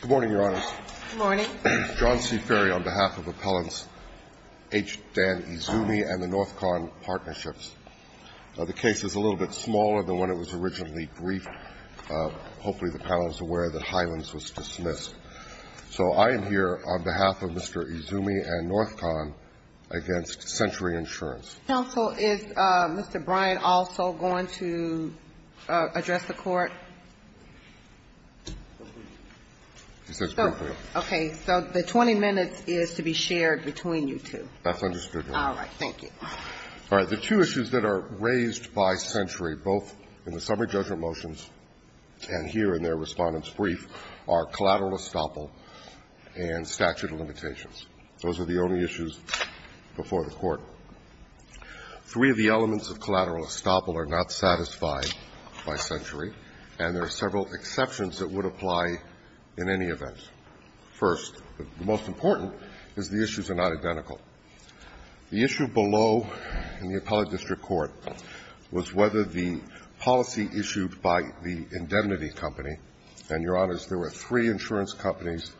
Good morning, Your Honors. Good morning. John C. Ferry on behalf of Appellants H. Dan IZUMI and the NorthCon Partnerships. The case is a little bit smaller than when it was originally briefed. Hopefully the panel is aware that Hylands was dismissed. So I am here on behalf of Mr. IZUMI and NorthCon against Century Insurance. Counsel, is Mr. Bryant also going to address the court? He says briefly. Okay. So the 20 minutes is to be shared between you two. That's understood, Your Honor. All right. Thank you. All right. The two issues that are raised by Century, both in the summary judgment motions and here in their respondent's brief, are collateral estoppel and statute of limitations. Those are the only issues before the Court. Three of the elements of collateral estoppel are not satisfied by Century, and there are several exceptions that would apply in any event. First, but most important, is the issues are not identical. The issue below in the appellate district court was whether the policy issued by the indemnity company, and, Your Honors, there were three insurance companies,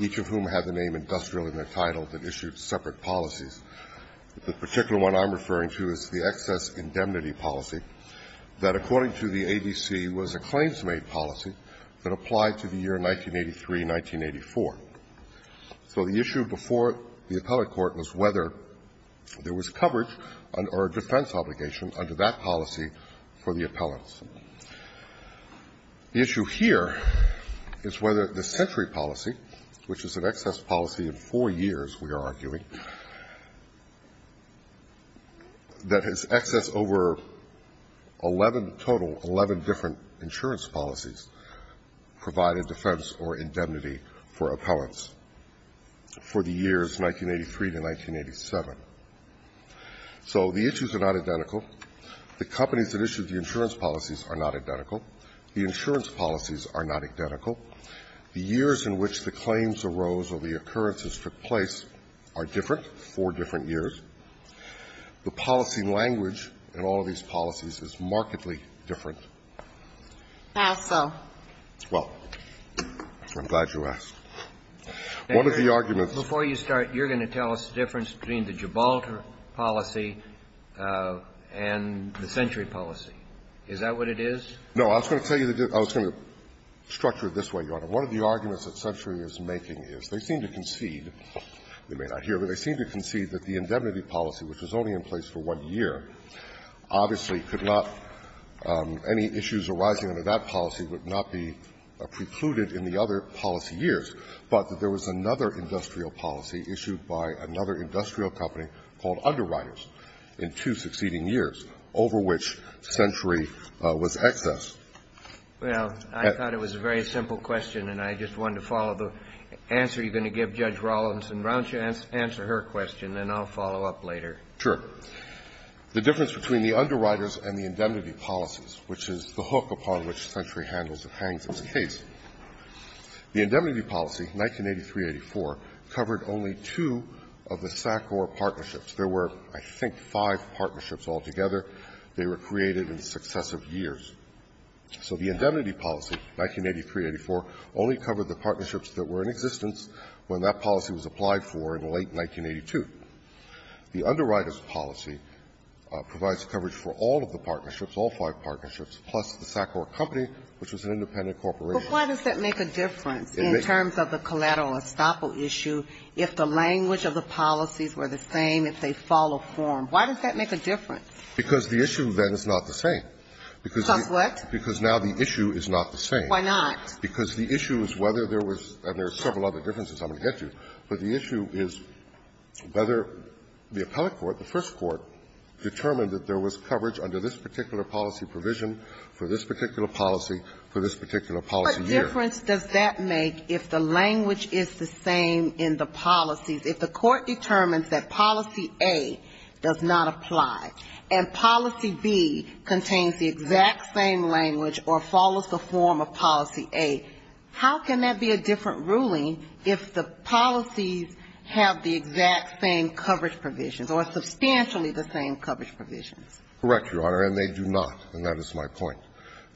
each of whom had the name industrial in their title, that issued separate policies. The particular one I'm referring to is the excess indemnity policy that, according to the ABC, was a claims-made policy that applied to the year 1983-1984. So the issue before the appellate court was whether there was coverage or a defense obligation under that policy for the appellants. The issue here is whether the Century policy, which is an excess policy of four years, we are arguing, that has excess over 11 total, 11 different insurance policies provide a defense or indemnity for appellants for the years 1983 to 1987. So the issues are not identical. The companies that issued the insurance policies are not identical. The insurance policies are not identical. The years in which the claims arose or the occurrences took place are different, four different years. The policy language in all of these policies is markedly different. Ginsburg. Well, I'm glad you asked. One of the arguments that's been raised in this case, and I'm going to say it again, is that there is a difference between the Federal policy and the Century policy. Is that what it is? No. I was going to tell you that I was going to structure it this way, Your Honor. One of the arguments that Century is making is they seem to concede, you may not hear, but they seem to concede that the indemnity policy, which was only in place for one year, obviously could not any issues arising under that policy would not be precluded in the other policy years, but that there was another industrial policy issued by another industrial company called Underwriters in two succeeding years, over which Century was excess. Well, I thought it was a very simple question, and I just wanted to follow the answer you're going to give Judge Rawlinson. Why don't you answer her question, and then I'll follow up later. Sure. The difference between the Underwriters and the indemnity policies, which is the hook upon which Century handles and hangs its case, the indemnity policy, 1983-84, covered only two of the SACOR partnerships. There were, I think, five partnerships altogether. They were created in successive years. So the indemnity policy, 1983-84, only covered the partnerships that were in existence when that policy was applied for in late 1982. The Underwriters policy provides coverage for all of the partnerships, all five partnerships, plus the SACOR company, which was an independent corporation. But why does that make a difference in terms of the collateral estoppel issue if the language of the policies were the same, if they follow form? Why does that make a difference? Because the issue, then, is not the same. Because the issue is not the same. Why not? Because the issue is whether there was, and there are several other differences I'm going to get to, but the issue is whether the appellate court, the first court, determined that there was coverage under this particular policy provision for this particular policy year. What difference does that make if the language is the same in the policies? If the court determines that policy A does not apply and policy B contains the exact same language or follows the form of policy A, how can that be a different ruling if the policies have the exact same coverage provisions or substantially the same coverage provisions? Correct, Your Honor, and they do not, and that is my point.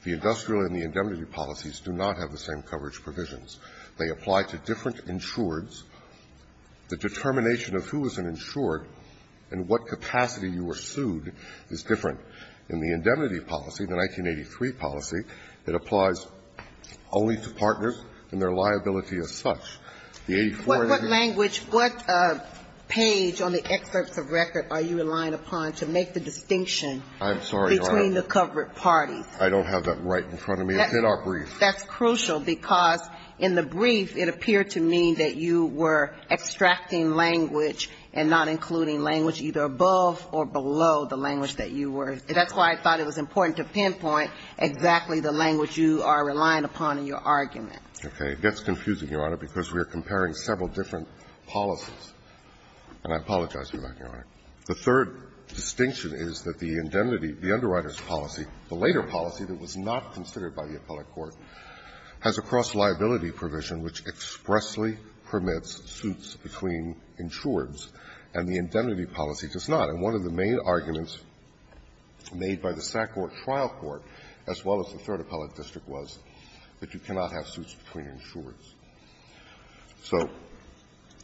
The industrial and the indemnity policies do not have the same coverage provisions. They apply to different insureds. The determination of who is an insured and what capacity you were sued is different. In the indemnity policy, the 1983 policy, it applies only to partners and their liability as such. The 84 and the 83. What language, what page on the excerpts of record are you relying upon to make the distinction between the covered parties? I don't have that right in front of me. It's in our brief. That's crucial, because in the brief, it appeared to me that you were extracting language and not including language either above or below the language that you were using. That's why I thought it was important to pinpoint exactly the language you are relying upon in your argument. Okay. It gets confusing, Your Honor, because we are comparing several different policies. And I apologize for that, Your Honor. The third distinction is that the indemnity, the underwriter's policy, the later policy that was not considered by the appellate court, has a cross-liability provision which expressly permits suits between insureds, and the indemnity policy does not. And one of the main arguments made by the SACCOR trial court, as well as the Third Appellate District, was that you cannot have suits between insureds.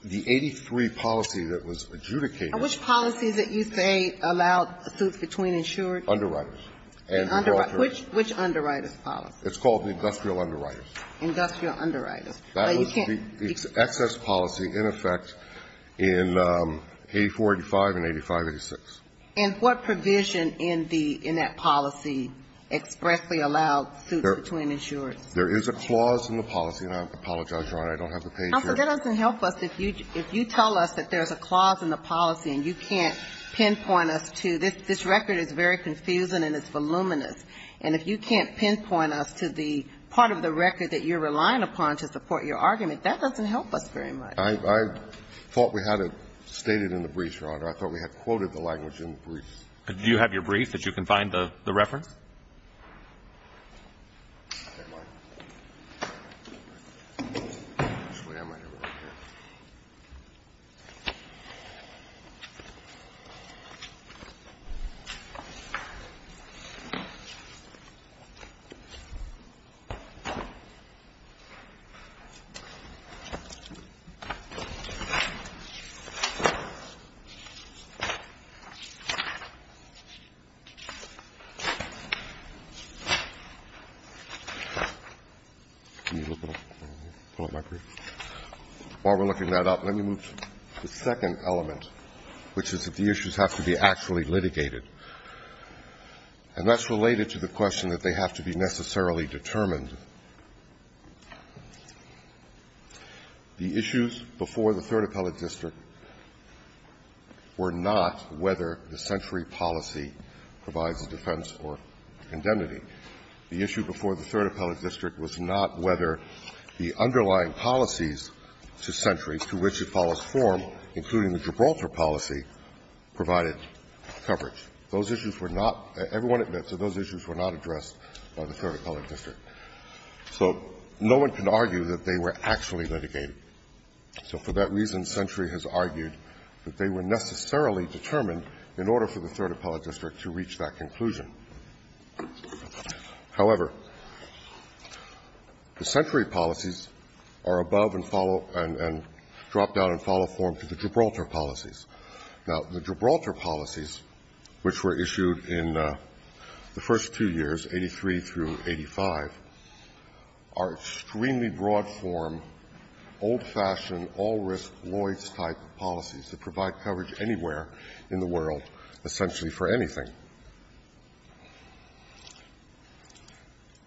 The policies that you say allow suits between insureds? Underwriters. Which underwriter's policy? It's called the industrial underwriter's. Industrial underwriter's. That was the excess policy, in effect, in 84-85 and 85-86. And what provision in the ñ in that policy expressly allowed suits between insureds? There is a clause in the policy, and I apologize, Your Honor, I don't have the page here. Counsel, that doesn't help us. If you tell us that there's a clause in the policy and you can't pinpoint us to ñ this record is very confusing and it's voluminous, and if you can't pinpoint us to the part of the record that you're relying upon to support your argument, that doesn't help us very much. I thought we had it stated in the brief, Your Honor. I thought we had quoted the language in the brief. Do you have your brief that you can find the reference? While we're looking that up, let me move to the second element, which is that the issues have to be actually litigated, and that's related to the question that they have to be necessarily determined. The issues before the Third Appellate District were not whether the century policy provides a defense or indemnity. The issue before the Third Appellate District was not whether the underlying policies to Century, to which it follows form, including the Gibraltar policy, provided coverage. Those issues were not ñ everyone admits that those issues were not addressed by the Third Appellate District. So no one can argue that they were actually litigated. So for that reason, Century has argued that they were necessarily determined in order for the Third Appellate District to reach that conclusion. However, the Century policies are above and follow ñ and drop down and follow form to the Gibraltar policies. Now, the Gibraltar policies, which were issued in the first two years, 83 through 85, are extremely broad-form, old-fashioned, all-risk, Lloyd's-type policies that provide coverage anywhere in the world essentially for anything.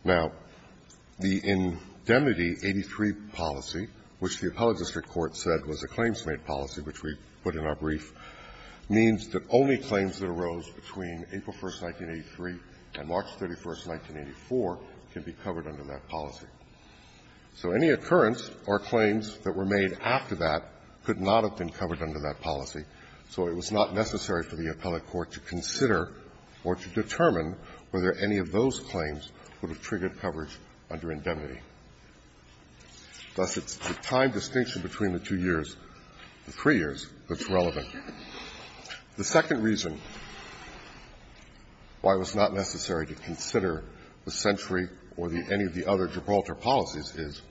Now, the indemnity 83 policy, which the Appellate District Court said was a claims-made policy, which we put in our brief, means that only claims that arose between April 1st, 1983 and March 31st, 1984 can be covered under that policy. So any occurrence or claims that were made after that could not have been covered under that policy, so it was not necessary for the appellate court to consider or to determine whether any of those claims would have triggered coverage under indemnity. Thus, it's the time distinction between the two years, the three years, that's relevant. The second reason why it was not necessary to consider the Century or the ñ any of the other Gibraltar policies is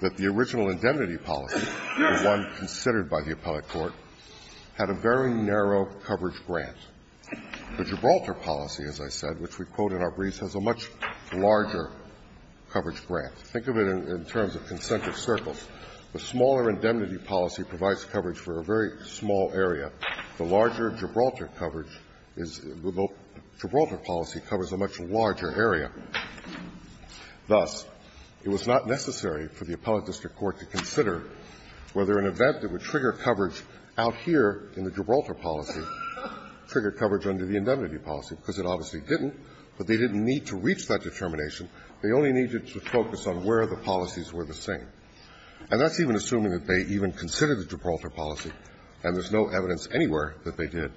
that the original indemnity policy, the one considered by the appellate court, had a very narrow coverage grant. The Gibraltar policy, as I said, which we quote in our briefs, has a much larger coverage grant. Think of it in terms of consentive circles. The smaller indemnity policy provides coverage for a very small area. The larger Gibraltar coverage is ñ the Gibraltar policy covers a much larger area. Thus, it was not necessary for the appellate district court to consider whether an event that would trigger coverage out here in the Gibraltar policy triggered coverage under the indemnity policy, because it obviously didn't, but they didn't need to reach that determination. They only needed to focus on where the policies were the same. And that's even assuming that they even considered the Gibraltar policy, and there's no evidence anywhere that they did.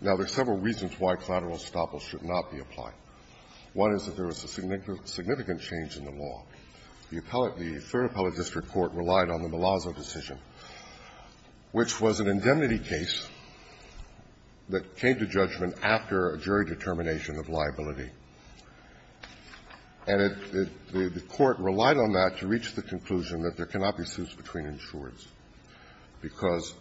Now, there are several reasons why collateral estoppel should not be applied. One is that there was a significant change in the law. The appellate ñ the Third Appellate District Court relied on the Malazzo decision, which was an indemnity case that came to judgment after a jury determination of liability. And it ñ the court relied on that to reach the conclusion that there cannot be suspended damages between insurers, because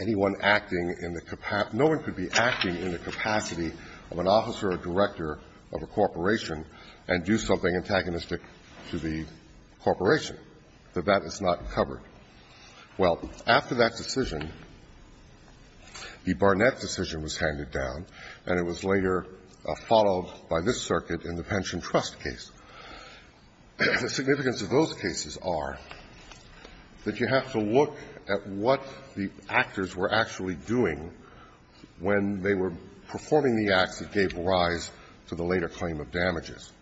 anyone acting in the ñ no one could be acting in the capacity of an officer or director of a corporation and do something antagonistic to the corporation, that that is not covered. Well, after that decision, the Barnett decision was handed down, and it was later followed by this circuit in the Pension Trust case. The significance of those cases are that you have to look at what the actors were actually doing when they were performing the acts that gave rise to the later claim of damages.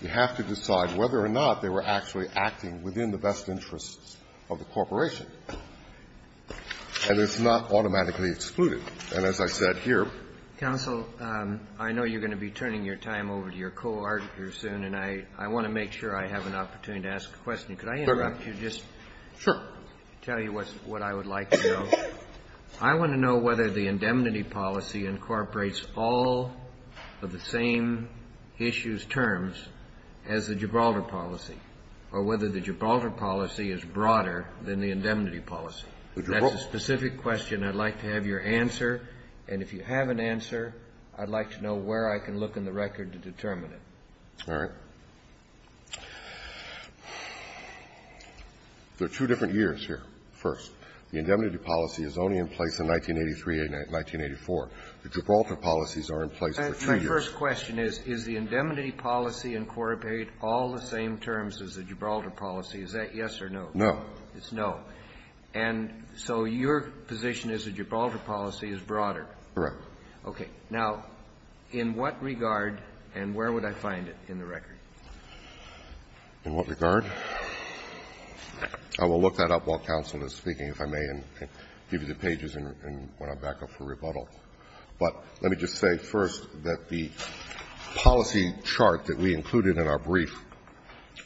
You have to decide whether or not they were actually acting within the best interests of the corporation. And it's not automatically excluded. And as I said here ñ I'm sure you're going to be turning your time over to your co-article soon, and I want to make sure I have an opportunity to ask a question. Could I interrupt you just to tell you what I would like to know? I want to know whether the indemnity policy incorporates all of the same issues terms as the Gibraltar policy, or whether the Gibraltar policy is broader than the indemnity policy. That's a specific question I'd like to have your answer, and if you have an answer, I'd like to know where I can look in the record to determine it. All right. There are two different years here. First, the indemnity policy is only in place in 1983 and 1984. The Gibraltar policies are in place for two years. My first question is, is the indemnity policy incorporate all the same terms as the Gibraltar policy? Is that yes or no? No. It's no. And so your position is the Gibraltar policy is broader. Correct. Okay. Now, in what regard and where would I find it in the record? In what regard? I will look that up while counsel is speaking, if I may, and give you the pages when I'm back up for rebuttal. But let me just say first that the policy chart that we included in our brief,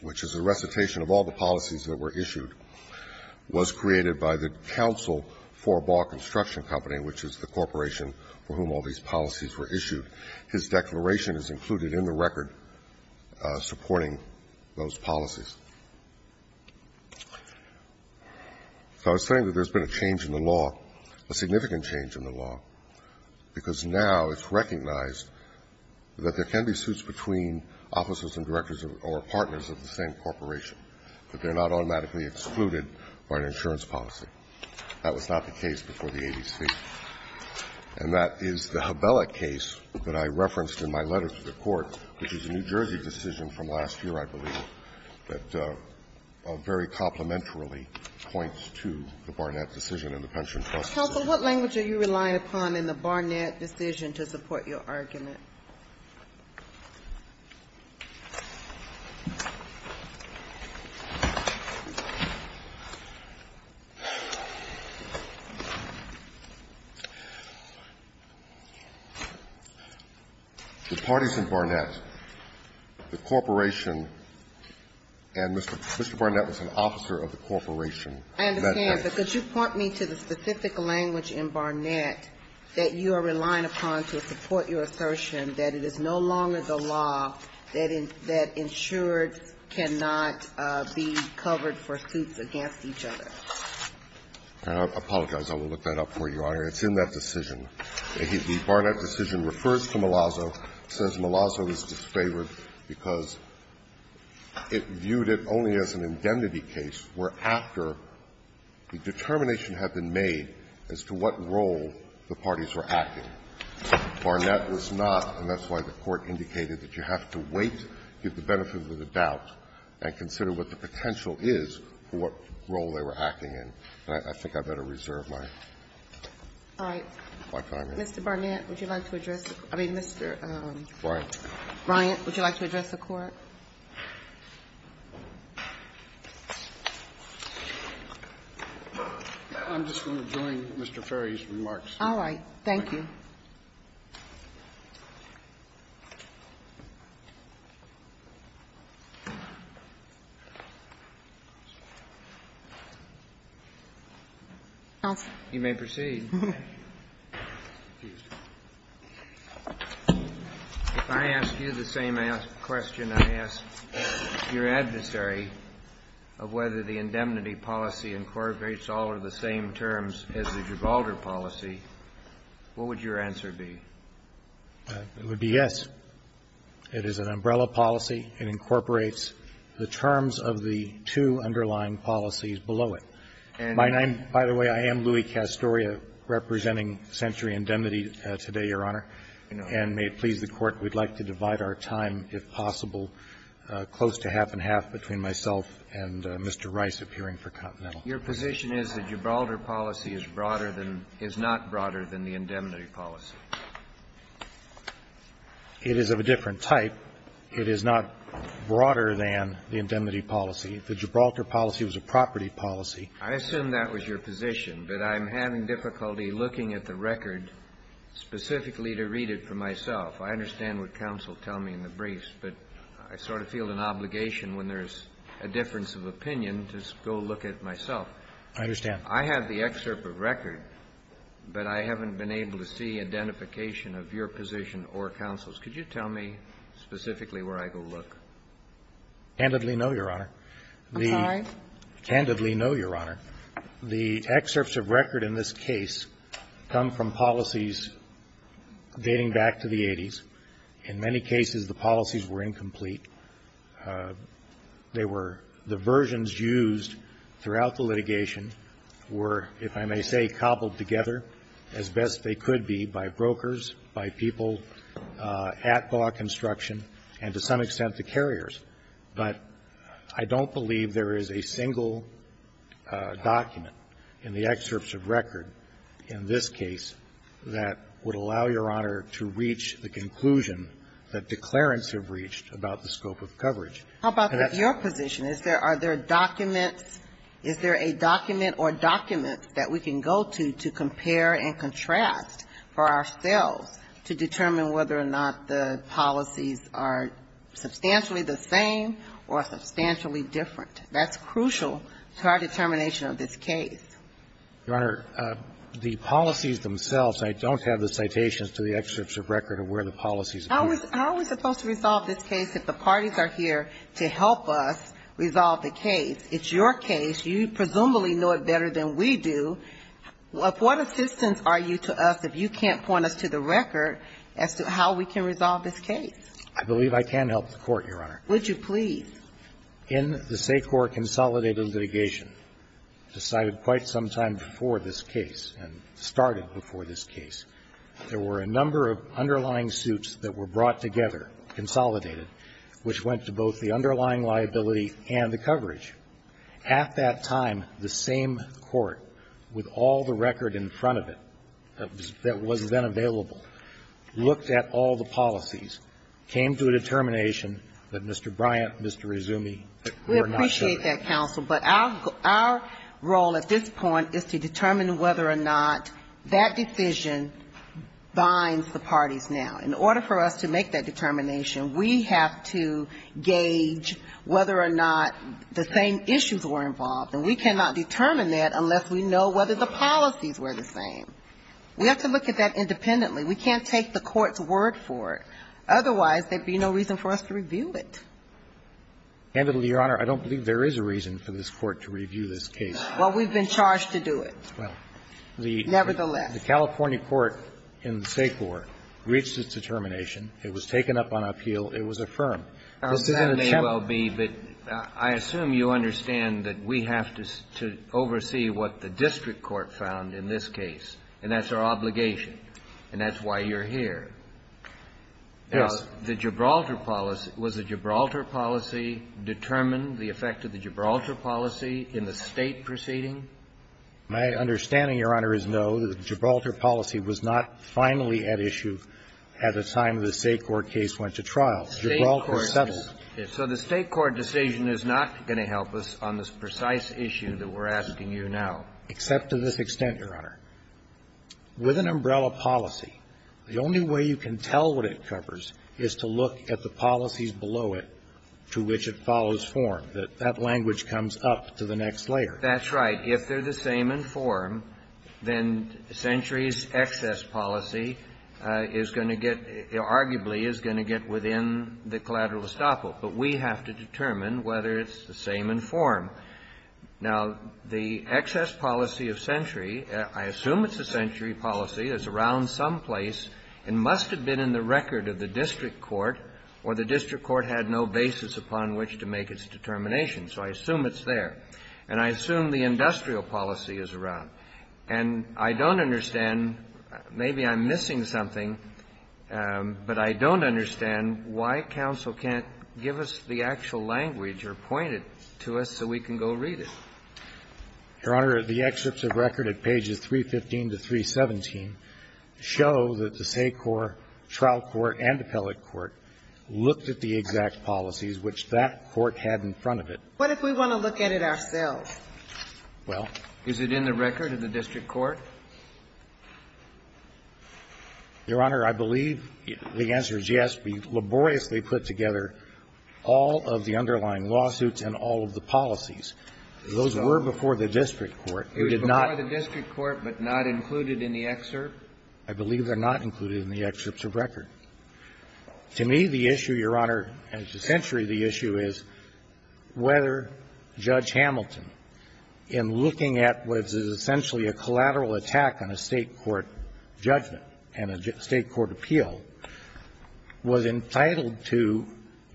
which is a recitation of all the policies that were issued, was created by the Council for Ball Construction Company, which is the corporation for whom all these policies were issued. His declaration is included in the record supporting those policies. So I was saying that there's been a change in the law, a significant change in the law, because now it's recognized that there can be suits between officers and directors or partners of the same corporation, but they're not automatically excluded by an insurance policy. That was not the case before the ADC. And that is the Habella case that I referenced in my letter to the Court, which is a New Jersey decision from last year, I believe, that very complementarily points to the Barnett decision and the Pension Plus decision. Counsel, what language are you relying upon in the Barnett decision to support your argument? The parties in Barnett, the corporation, and Mr. Barnett was an officer of the corporation. I understand, but could you point me to the specific language in Barnett that you are relying upon to support your assertion? That it is no longer the law that insured cannot be covered for suits against each other. I apologize. I will look that up for you, Your Honor. It's in that decision. The Barnett decision refers to Malazzo, since Malazzo is disfavored because it viewed it only as an indemnity case where after the determination had been made as to what role the parties were acting. Barnett was not, and that's why the Court indicated that you have to wait, get the benefit of the doubt, and consider what the potential is for what role they were acting in. And I think I better reserve my time here. Mr. Barnett, would you like to address the Court? I mean, Mr. Bryant, would you like to address the Court? I'm just going to join Mr. Ferry's remarks. All right. Thank you. Counsel. You may proceed. If I ask you the same question I ask your adversary of whether the indemnity policy incorporates all or the same terms as the Gibraltar policy, what would you answer be? It would be yes. It is an umbrella policy. It incorporates the terms of the two underlying policies below it. And my name, by the way, I am Louis Castoria representing Century Indemnity today, Your Honor. And may it please the Court, we'd like to divide our time, if possible, close to half and half between myself and Mr. Rice appearing for Continental. Your position is the Gibraltar policy is broader than, is not broader than the indemnity policy? It is of a different type. It is not broader than the indemnity policy. The Gibraltar policy was a property policy. I assume that was your position, but I'm having difficulty looking at the record specifically to read it for myself. I understand what counsel tell me in the briefs, but I sort of feel an obligation when there's a difference of opinion to go look at it myself. I understand. I have the excerpt of record, but I haven't been able to see identification of your position or counsel's. Could you tell me specifically where I go look? Candidly, no, Your Honor. I'm sorry? Candidly, no, Your Honor. The excerpts of record in this case come from policies dating back to the 80s. In many cases, the policies were incomplete. They were the versions used throughout the litigation were, if I may say, cobbled together as best they could be by brokers, by people at Baugh Construction and, to some extent, the carriers. But I don't believe there is a single document in the excerpts of record in this case that would allow Your Honor to reach the conclusion that declarants have reached about the scope of coverage. How about your position? Is there a document or documents that we can go to, to compare and contrast for ourselves to determine whether or not the policies are substantially the same or substantially different? That's crucial to our determination of this case. Your Honor, the policies themselves, I don't have the citations to the excerpts of record of where the policies are. How are we supposed to resolve this case if the parties are here to help us resolve the case? It's your case. You presumably know it better than we do. Of what assistance are you to us if you can't point us to the record as to how we can resolve this case? I believe I can help the Court, Your Honor. Would you please? In the SACOR consolidated litigation, decided quite some time before this case and started before this case, there were a number of underlying suits that were brought together, consolidated, which went to both the underlying liability and the coverage. At that time, the same court, with all the record in front of it that was then available, looked at all the policies, came to a determination that Mr. Bryant, Mr. Rizzumi were not good. We appreciate that, counsel. But our role at this point is to determine whether or not that decision binds the parties now. In order for us to make that determination, we have to gauge whether or not the same issues were involved. And we cannot determine that unless we know whether the policies were the same. We have to look at that independently. We can't take the Court's word for it. Otherwise, there would be no reason for us to review it. Handedly, Your Honor, I don't believe there is a reason for this Court to review this case. Well, we've been charged to do it. Well, the the California court in the SACOR reached its determination. It was taken up on appeal. It was affirmed. This isn't a challenge. That may well be, but I assume you understand that we have to oversee what the district court found in this case, and that's our obligation, and that's why you're here. Now, the Gibraltar policy, was the Gibraltar policy determined, the effect of the Gibraltar policy in the State proceeding? My understanding, Your Honor, is no. The Gibraltar policy was not finally at issue at the time the SACOR case went to trial. Gibraltar settled. So the State court decision is not going to help us on this precise issue that we're asking you now. Except to this extent, Your Honor, with an umbrella policy, the only way you can tell what it covers is to look at the policies below it to which it follows form, that that language comes up to the next layer. That's right. If they're the same in form, then Century's excess policy is going to get, arguably, is going to get within the collateral estoppel. But we have to determine whether it's the same in form. Now, the excess policy of Century, I assume it's a Century policy, is around some place and must have been in the record of the district court, or the district court had no basis upon which to make its determination. So I assume it's there. And I assume the industrial policy is around. And I don't understand, maybe I'm missing something, but I don't understand why counsel can't give us the actual language or point it to us so we can go read it. Your Honor, the excerpts of record at pages 315 to 317 show that the SACOR trial court and appellate court looked at the exact policies which that court had in front of it. What if we want to look at it ourselves? Well. Is it in the record of the district court? Your Honor, I believe the answer is yes. We laboriously put together all of the underlying lawsuits and all of the policies. Those were before the district court. We did not ---- It was before the district court but not included in the excerpt? I believe they're not included in the excerpts of record. To me, the issue, Your Honor, and to Century, the issue is whether Judge Hamilton in looking at what is essentially a collateral attack on a State court judgment and a State court appeal was entitled to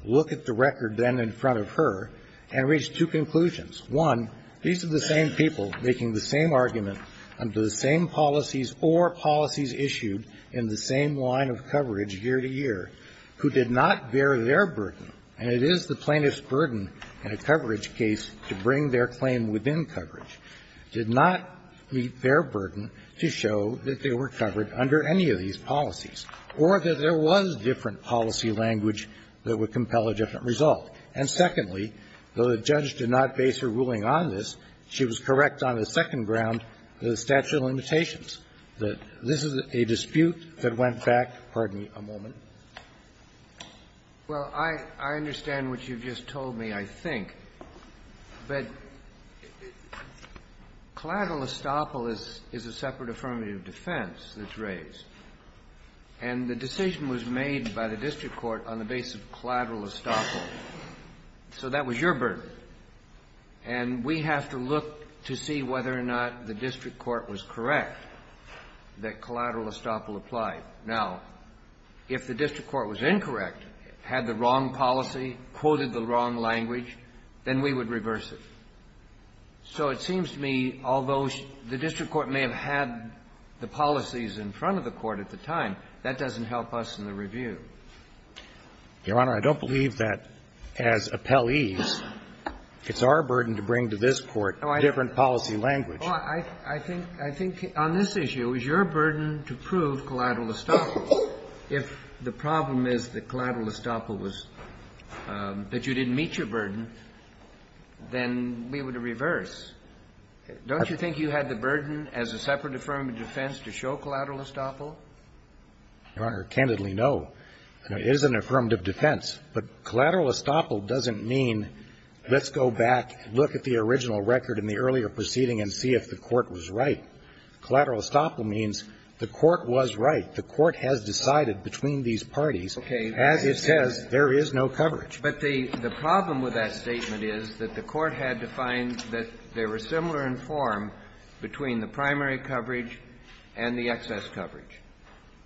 look at the record then in front of her and reach two conclusions. One, these are the same people making the same argument under the same policies or policies issued in the same line of coverage year to year who did not bear their burden, and it is the plaintiff's burden in a coverage case to bring their claim within coverage, did not meet their burden to show that they were covered under any of these policies, or that there was different policy language that would compel a different result. And secondly, though the judge did not base her ruling on this, she was correct on the second ground, the statute of limitations, that this is a dispute that went back, pardon me a moment. Well, I understand what you've just told me, I think. But collateral estoppel is a separate affirmative defense that's raised. And the decision was made by the district court on the basis of collateral estoppel. So that was your burden. And we have to look to see whether or not the district court was correct that collateral estoppel applied. Now, if the district court was incorrect, had the wrong policy, quoted the wrong language, then we would reverse it. So it seems to me, although the district court may have had the policies in front of the court at the time, that doesn't help us in the review. Your Honor, I don't believe that as appellees, it's our burden to bring to this court different policy language. Well, I think on this issue, it was your burden to prove collateral estoppel. If the problem is that collateral estoppel was that you didn't meet your burden, then we would reverse. Don't you think you had the burden as a separate affirmative defense to show collateral estoppel? Your Honor, candidly, no. It is an affirmative defense. But collateral estoppel doesn't mean let's go back, look at the original record in the earlier proceeding and see if the court was right. Collateral estoppel means the court was right. The court has decided between these parties, as it says, there is no coverage. But the problem with that statement is that the court had to find that they were similar in form between the primary coverage and the excess coverage.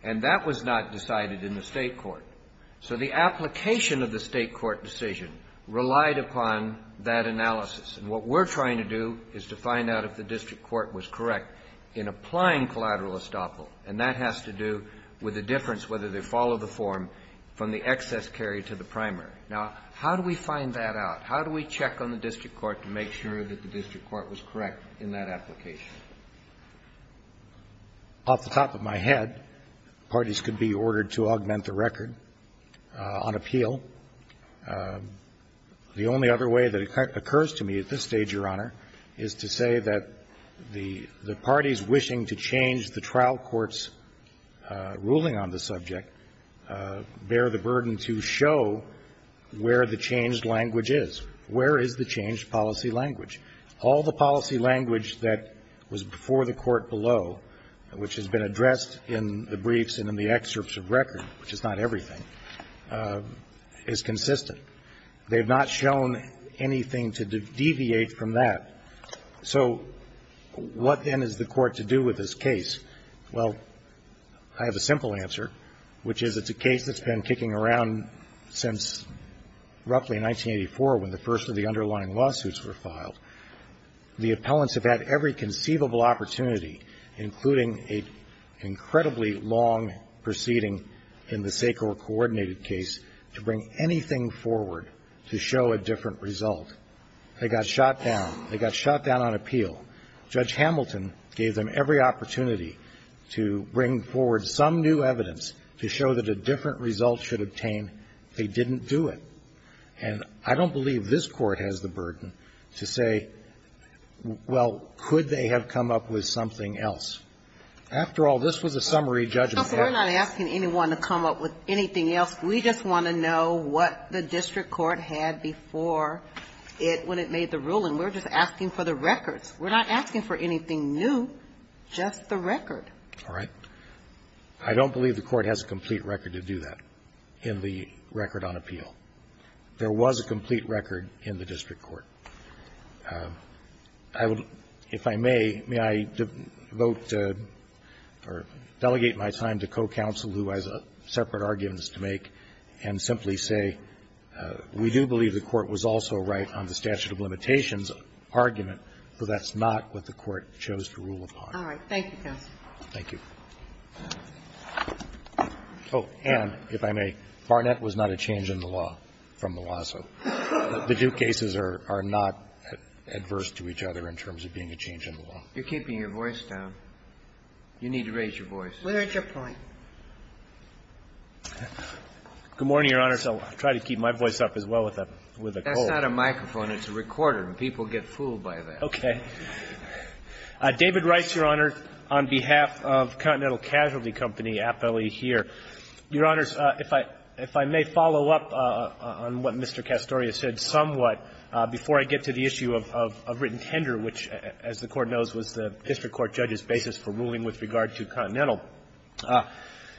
And that was not decided in the State court. So the application of the State court decision relied upon that analysis. And what we're trying to do is to find out if the district court was correct in applying collateral estoppel. And that has to do with the difference whether they follow the form from the excess carry to the primary. Now, how do we find that out? How do we check on the district court to make sure that the district court was correct in that application? Off the top of my head, parties could be ordered to augment the record on appeal. The only other way that occurs to me at this stage, Your Honor, is to say that the parties wishing to change the trial court's ruling on the subject bear the burden to show where the changed language is. Where is the changed policy language? All the policy language that was before the court below, which has been addressed in the briefs and in the excerpts of record, which is not everything, is the policy language is consistent. They've not shown anything to deviate from that. So what, then, is the court to do with this case? Well, I have a simple answer, which is it's a case that's been kicking around since roughly 1984 when the first of the underlying lawsuits were filed. The appellants have had every conceivable opportunity, including an incredibly long proceeding in the SACOR coordinated case, to bring anything forward to show a different result. They got shot down. They got shot down on appeal. Judge Hamilton gave them every opportunity to bring forward some new evidence to show that a different result should obtain. They didn't do it. And I don't believe this Court has the burden to say, well, could they have come up with something else? After all, this was a summary judgment. But we're not asking anyone to come up with anything else. We just want to know what the district court had before it, when it made the ruling. We're just asking for the records. We're not asking for anything new, just the record. All right. I don't believe the Court has a complete record to do that in the record on appeal. There was a complete record in the district court. I would, if I may, may I vote or delegate my time to co-counsel, who has separate arguments to make, and simply say we do believe the Court was also right on the statute of limitations argument, but that's not what the Court chose to rule upon. All right. Thank you, counsel. Thank you. Oh, and if I may, Barnett was not a change in the law from Malazzo. The two cases are not adverse to each other in terms of being a change in the law. You're keeping your voice down. You need to raise your voice. Where's your point? Good morning, Your Honor. I'll try to keep my voice up as well with a cold. That's not a microphone. It's a recorder, and people get fooled by that. Okay. David Rice, Your Honor, on behalf of Continental Casualty Company, appellee here. Your Honors, if I may follow up on what Mr. Castoria said somewhat before I get to the issue of written tender, which, as the Court knows, was the district court judge's basis for ruling with regard to Continental.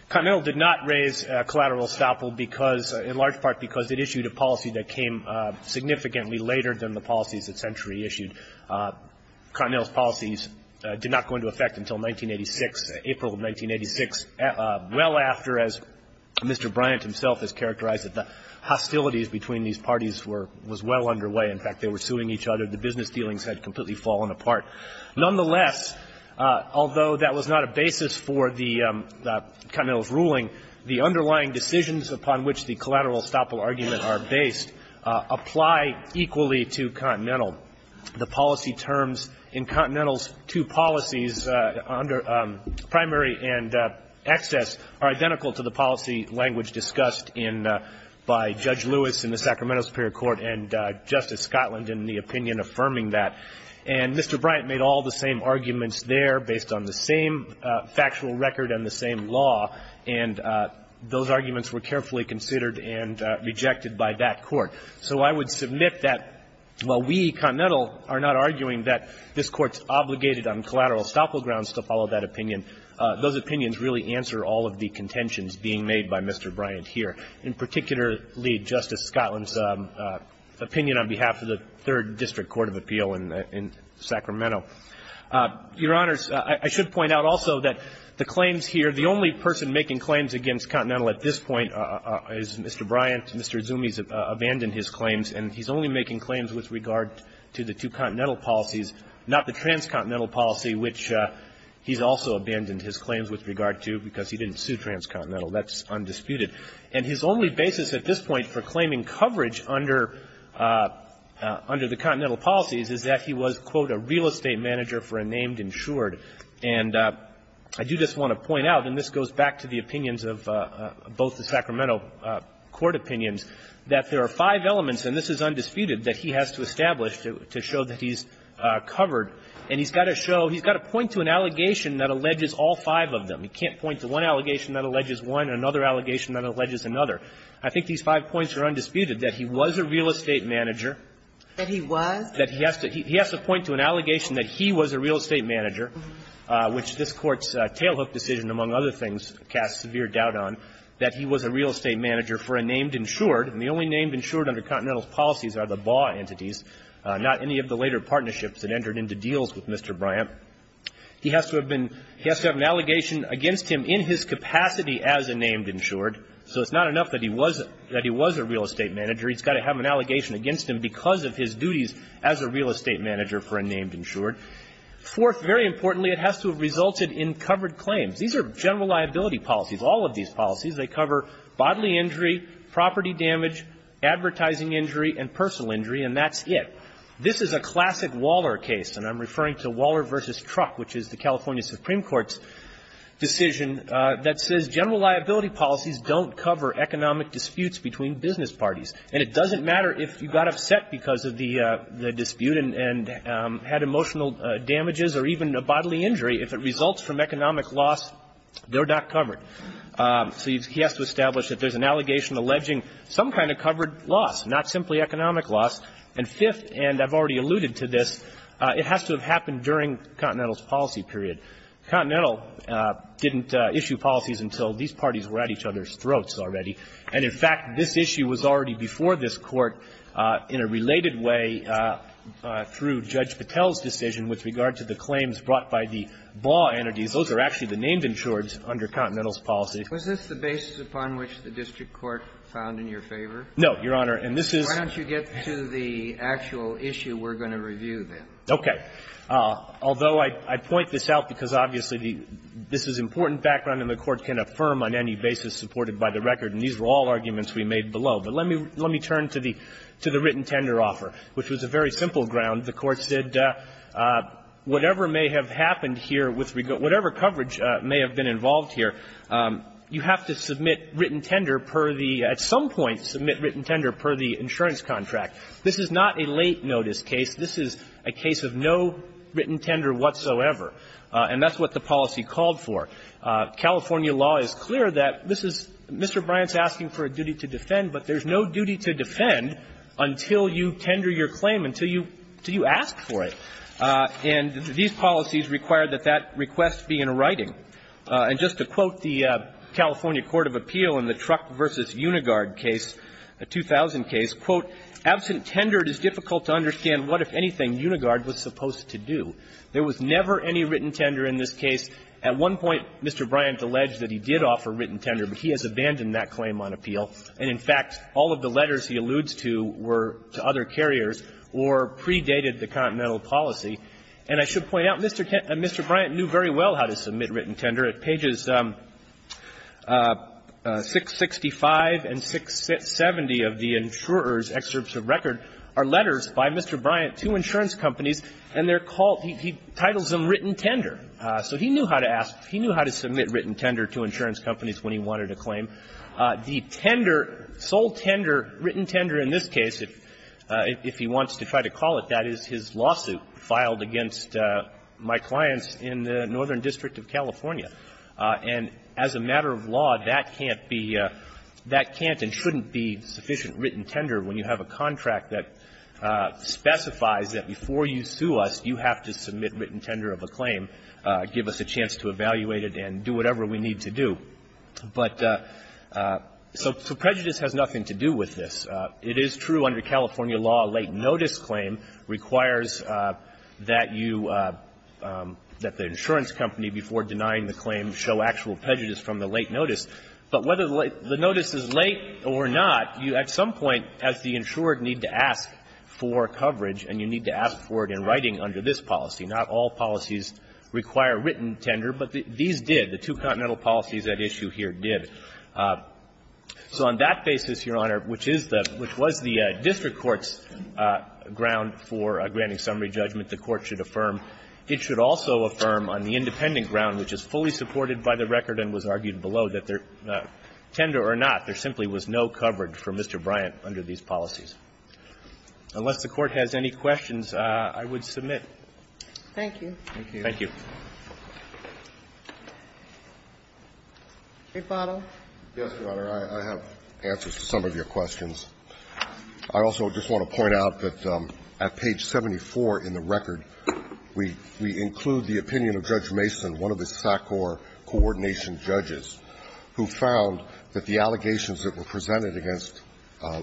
Continental did not raise collateral estoppel because, in large part, because it issued a policy that came significantly later than the policies that Century issued. Continental's policies did not go into effect until 1986, April of 1986, well after as Mr. Bryant himself has characterized it. The hostilities between these parties were well underway. In fact, they were suing each other. The business dealings had completely fallen apart. Nonetheless, although that was not a basis for the Continental's ruling, the underlying decisions upon which the collateral estoppel arguments are based apply equally to Continental. The policy terms in Continental's two policies, primary and excess, are identical to the policy language discussed in by Judge Lewis in the Sacramento Superior Court and Justice Scotland in the opinion affirming that. And Mr. Bryant made all the same arguments there based on the same factual record and the same law, and those arguments were carefully considered and rejected by that Court. So I would submit that while we, Continental, are not arguing that this Court's obligated on collateral estoppel grounds to follow that opinion, those opinions really answer all of the contentions being made by Mr. Bryant here, and particularly Justice Scotland's opinion on behalf of the Third District Court of Appeal in Sacramento. Your Honors, I should point out also that the claims here, the only person making claims against Continental at this point is Mr. Bryant. Mr. Zumi has abandoned his claims, and he's only making claims with regard to the two Continental policies, not the transcontinental policy, which he's also abandoned his claims with regard to because he didn't sue transcontinental. That's undisputed. And his only basis at this point for claiming coverage under the Continental policies is that he was, quote, a real estate manager for a named insured. And I do just want to point out, and this goes back to the opinions of both the Sacramento Court opinions, that there are five elements, and this is undisputed, that he has to establish to show that he's covered, and he's got to show, he's got to point to an allegation that alleges one, and another allegation that alleges another. I think these five points are undisputed, that he was a real estate manager. That he was? That he has to point to an allegation that he was a real estate manager, which this Court's tailhook decision, among other things, casts severe doubt on, that he was a real estate manager for a named insured. And the only named insured under Continental's policies are the BAW entities, not any of the later partnerships that entered into deals with Mr. Bryant. He has to have been, he has to have an allegation against him in his capacity as a named insured. So it's not enough that he was, that he was a real estate manager. He's got to have an allegation against him because of his duties as a real estate manager for a named insured. Fourth, very importantly, it has to have resulted in covered claims. These are general liability policies. All of these policies, they cover bodily injury, property damage, advertising injury, and personal injury, and that's it. This is a classic Waller case, and I'm referring to Waller v. Truck, which is the California Supreme Court's decision that says general liability policies don't cover economic disputes between business parties. And it doesn't matter if you got upset because of the dispute and had emotional damages or even a bodily injury. If it results from economic loss, they're not covered. So he has to establish that there's an allegation alleging some kind of covered loss, not simply economic loss. And fifth, and I've already alluded to this, it has to have happened during Continental's policy period. Continental didn't issue policies until these parties were at each other's throats already. And, in fact, this issue was already before this Court in a related way through Judge Patel's decision with regard to the claims brought by the law entities. Those are actually the named insureds under Continental's policy. Kennedy. Was this the basis upon which the district court found in your favor? And this is why don't you get to the end of it. This is the actual issue we're going to review, then. Okay. Although I point this out because, obviously, this is important background and the Court can affirm on any basis supported by the record. And these were all arguments we made below. But let me turn to the written tender offer, which was a very simple ground. The Court said whatever may have happened here with regard to whatever coverage may have been involved here, you have to submit written tender per the at some point written tender per the insurance contract. This is not a late notice case. This is a case of no written tender whatsoever. And that's what the policy called for. California law is clear that this is Mr. Bryant's asking for a duty to defend, but there's no duty to defend until you tender your claim, until you ask for it. And these policies require that that request be in writing. And just to quote the California Court of Appeal in the Truck v. Unigard case, a 2000 case, quote, Absent tender, it is difficult to understand what, if anything, Unigard was supposed to do. There was never any written tender in this case. At one point, Mr. Bryant alleged that he did offer written tender, but he has abandoned that claim on appeal. And, in fact, all of the letters he alludes to were to other carriers or predated the Continental policy. And I should point out, Mr. Bryant knew very well how to submit written tender. At pages 665 and 670 of the insurer's excerpts of record are letters by Mr. Bryant to insurance companies, and they're called he titles them written tender. So he knew how to ask, he knew how to submit written tender to insurance companies when he wanted a claim. The tender, sole tender, written tender in this case, if he wants to try to call it, that is his lawsuit filed against my clients in the Northern District of California. And as a matter of law, that can't be – that can't and shouldn't be sufficient written tender when you have a contract that specifies that before you sue us, you have to submit written tender of a claim, give us a chance to evaluate it, and do whatever we need to do. But so prejudice has nothing to do with this. It is true under California law, a late notice claim requires that you – that the insurance company, before denying the claim, show actual prejudice from the late notice. But whether the notice is late or not, you at some point, as the insured, need to ask for coverage, and you need to ask for it in writing under this policy. Not all policies require written tender, but these did. The two Continental policies at issue here did. So on that basis, Your Honor, which is the – which was the district court's ground for granting summary judgment, the Court should affirm. It should also affirm on the independent ground, which is fully supported by the record and was argued below, that tender or not, there simply was no coverage for Mr. Bryant under these policies. Unless the Court has any questions, I would submit. Thank you. Thank you. Thank you. Rebuttal. Yes, Your Honor. I have answers to some of your questions. I also just want to point out that at page 74 in the record, we – we include the opinion of Judge Mason, one of the SACOR coordination judges, who found that the allegations that were presented against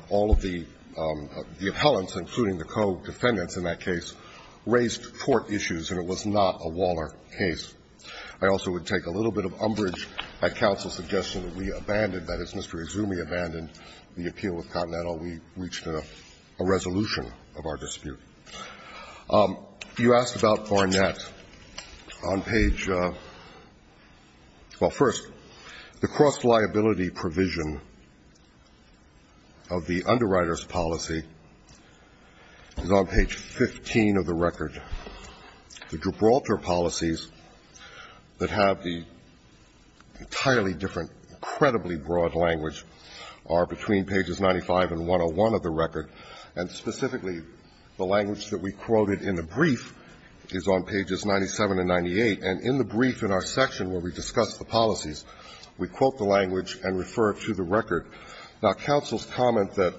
all of the – the appellants, including the co-defendants in that case, raised court issues, and it was not a Waller case. I also would take a little bit of umbrage at counsel's suggestion that we abandoned – that as Mr. Izumi abandoned the appeal with Continental, we reached a resolution of our dispute. You asked about Barnett on page – well, first, the cross-liability provision of the underwriter's policy is on page 15 of the record. The Gibraltar policies that have the entirely different, incredibly broad language are between pages 95 and 101 of the record, and specifically, the language that we quoted in the brief is on pages 97 and 98. And in the brief in our section where we discuss the policies, we quote the language and refer it to the record. Now, counsel's comment that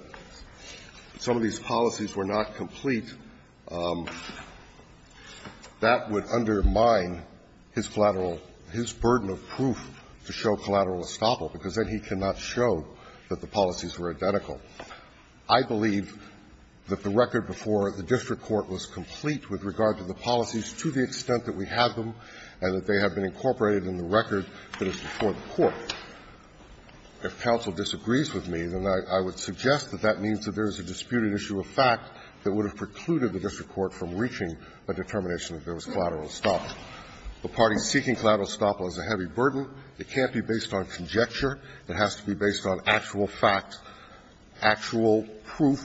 some of these policies were not complete, that would undermine his collateral – his burden of proof to show collateral estoppel, because then he cannot show that the policies were identical. I believe that the record before the district court was complete with regard to the policies to the extent that we have them and that they have been incorporated in the record that is before the court. If counsel disagrees with me, then I would suggest that that means that there is a disputed issue of fact that would have precluded the district court from reaching a determination that there was collateral estoppel. The parties seeking collateral estoppel is a heavy burden. It can't be based on conjecture. It has to be based on actual fact, actual proof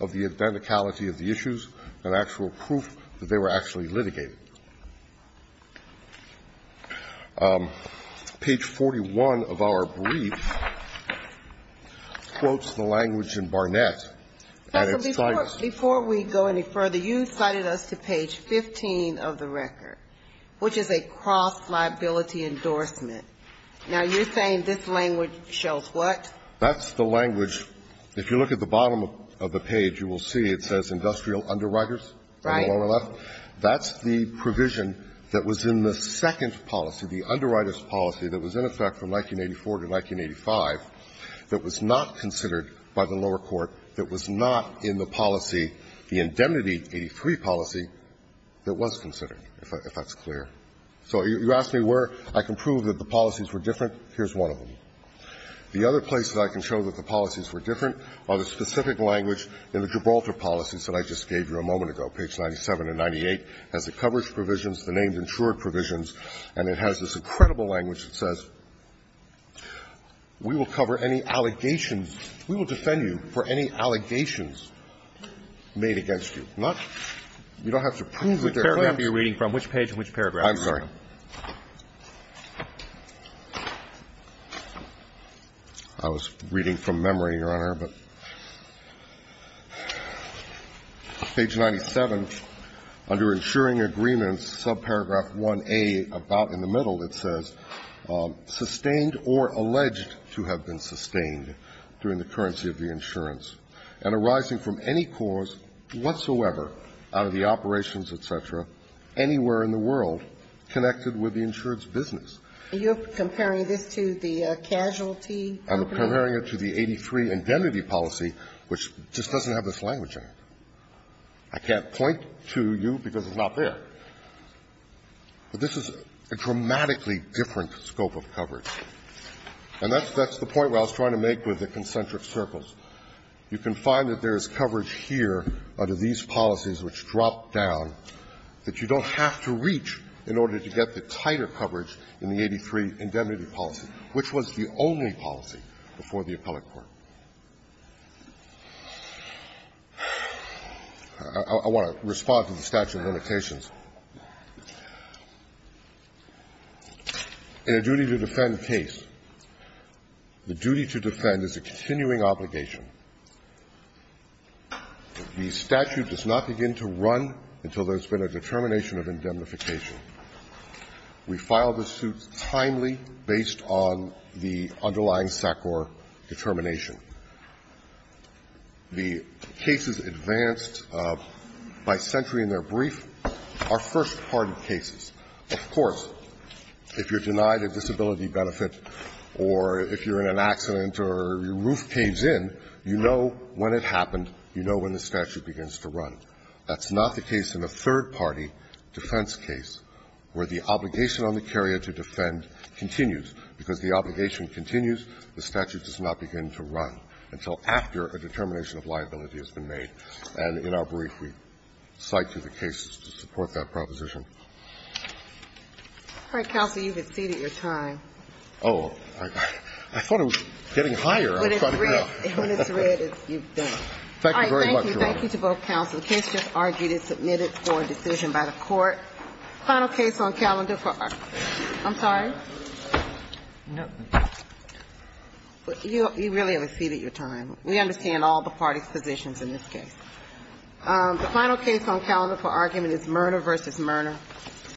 of the identicality of the issues and actual proof that they were actually litigated. Page 41 of our brief quotes the language in Barnett. And it cites the language in Barnett. Ginsburg-Gilmore. Counsel, before we go any further, you cited us to page 15 of the record, which is a cross-liability endorsement. Now, you're saying this language shows what? That's the language. If you look at the bottom of the page, you will see it says industrial underwriters on the lower left. Right. That's the provision that was in the second policy, the underwriters policy that was in effect from 1984 to 1985, that was not considered by the lower court, that was not in the policy, the indemnity 83 policy, that was considered, if that's clear. So you ask me where I can prove that the policies were different. Here's one of them. The other places I can show that the policies were different are the specific language in the Gibraltar policies that I just gave you a moment ago, page 97 and 98, has the coverage provisions, the named insured provisions, and it has this incredible language that says, we will cover any allegations, we will defend you for any allegations made against you. Not you don't have to prove that they're claims. Which paragraph are you reading from? Which page and which paragraph? I'm sorry. I was reading from memory, Your Honor, but. Page 97, under insuring agreements, subparagraph 1A, about in the middle, it says, sustained or alleged to have been sustained during the currency of the insurance and arising from any cause whatsoever out of the operations, et cetera, anywhere in the world connected with the insurance business. Are you comparing this to the casualty? I'm comparing it to the 83 indemnity policy, which just doesn't have this language in it. I can't point to you because it's not there. But this is a dramatically different scope of coverage. And that's the point where I was trying to make with the concentric circles. You can find that there is coverage here under these policies which drop down that you don't have to reach in order to get the tighter coverage in the 83 indemnity policy, which was the only policy. And that's what I was trying to make with the concentric circles, which is the only policy before the appellate court. I want to respond to the statute of limitations. In a duty-to-defend case, the duty to defend is a continuing obligation. The statute does not begin to run until there's been a determination of indemnification. We file the suit timely based on the underlying SACOR determination. The cases advanced by century in their brief are first-party cases. Of course, if you're denied a disability benefit or if you're in an accident or your roof caves in, you know when it happened, you know when the statute begins to run. That's not the case in a third-party defense case where the obligation on the carrier to defend continues. Because the obligation continues, the statute does not begin to run until after a determination of liability has been made. And in our brief, we cite to the cases to support that proposition. All right, counsel, you have exceeded your time. Oh, I thought it was getting higher. Thank you very much, Your Honor. Thank you to both counsels. The case just argued is submitted for a decision by the Court. Final case on calendar for argument is Mirna v. Mirna.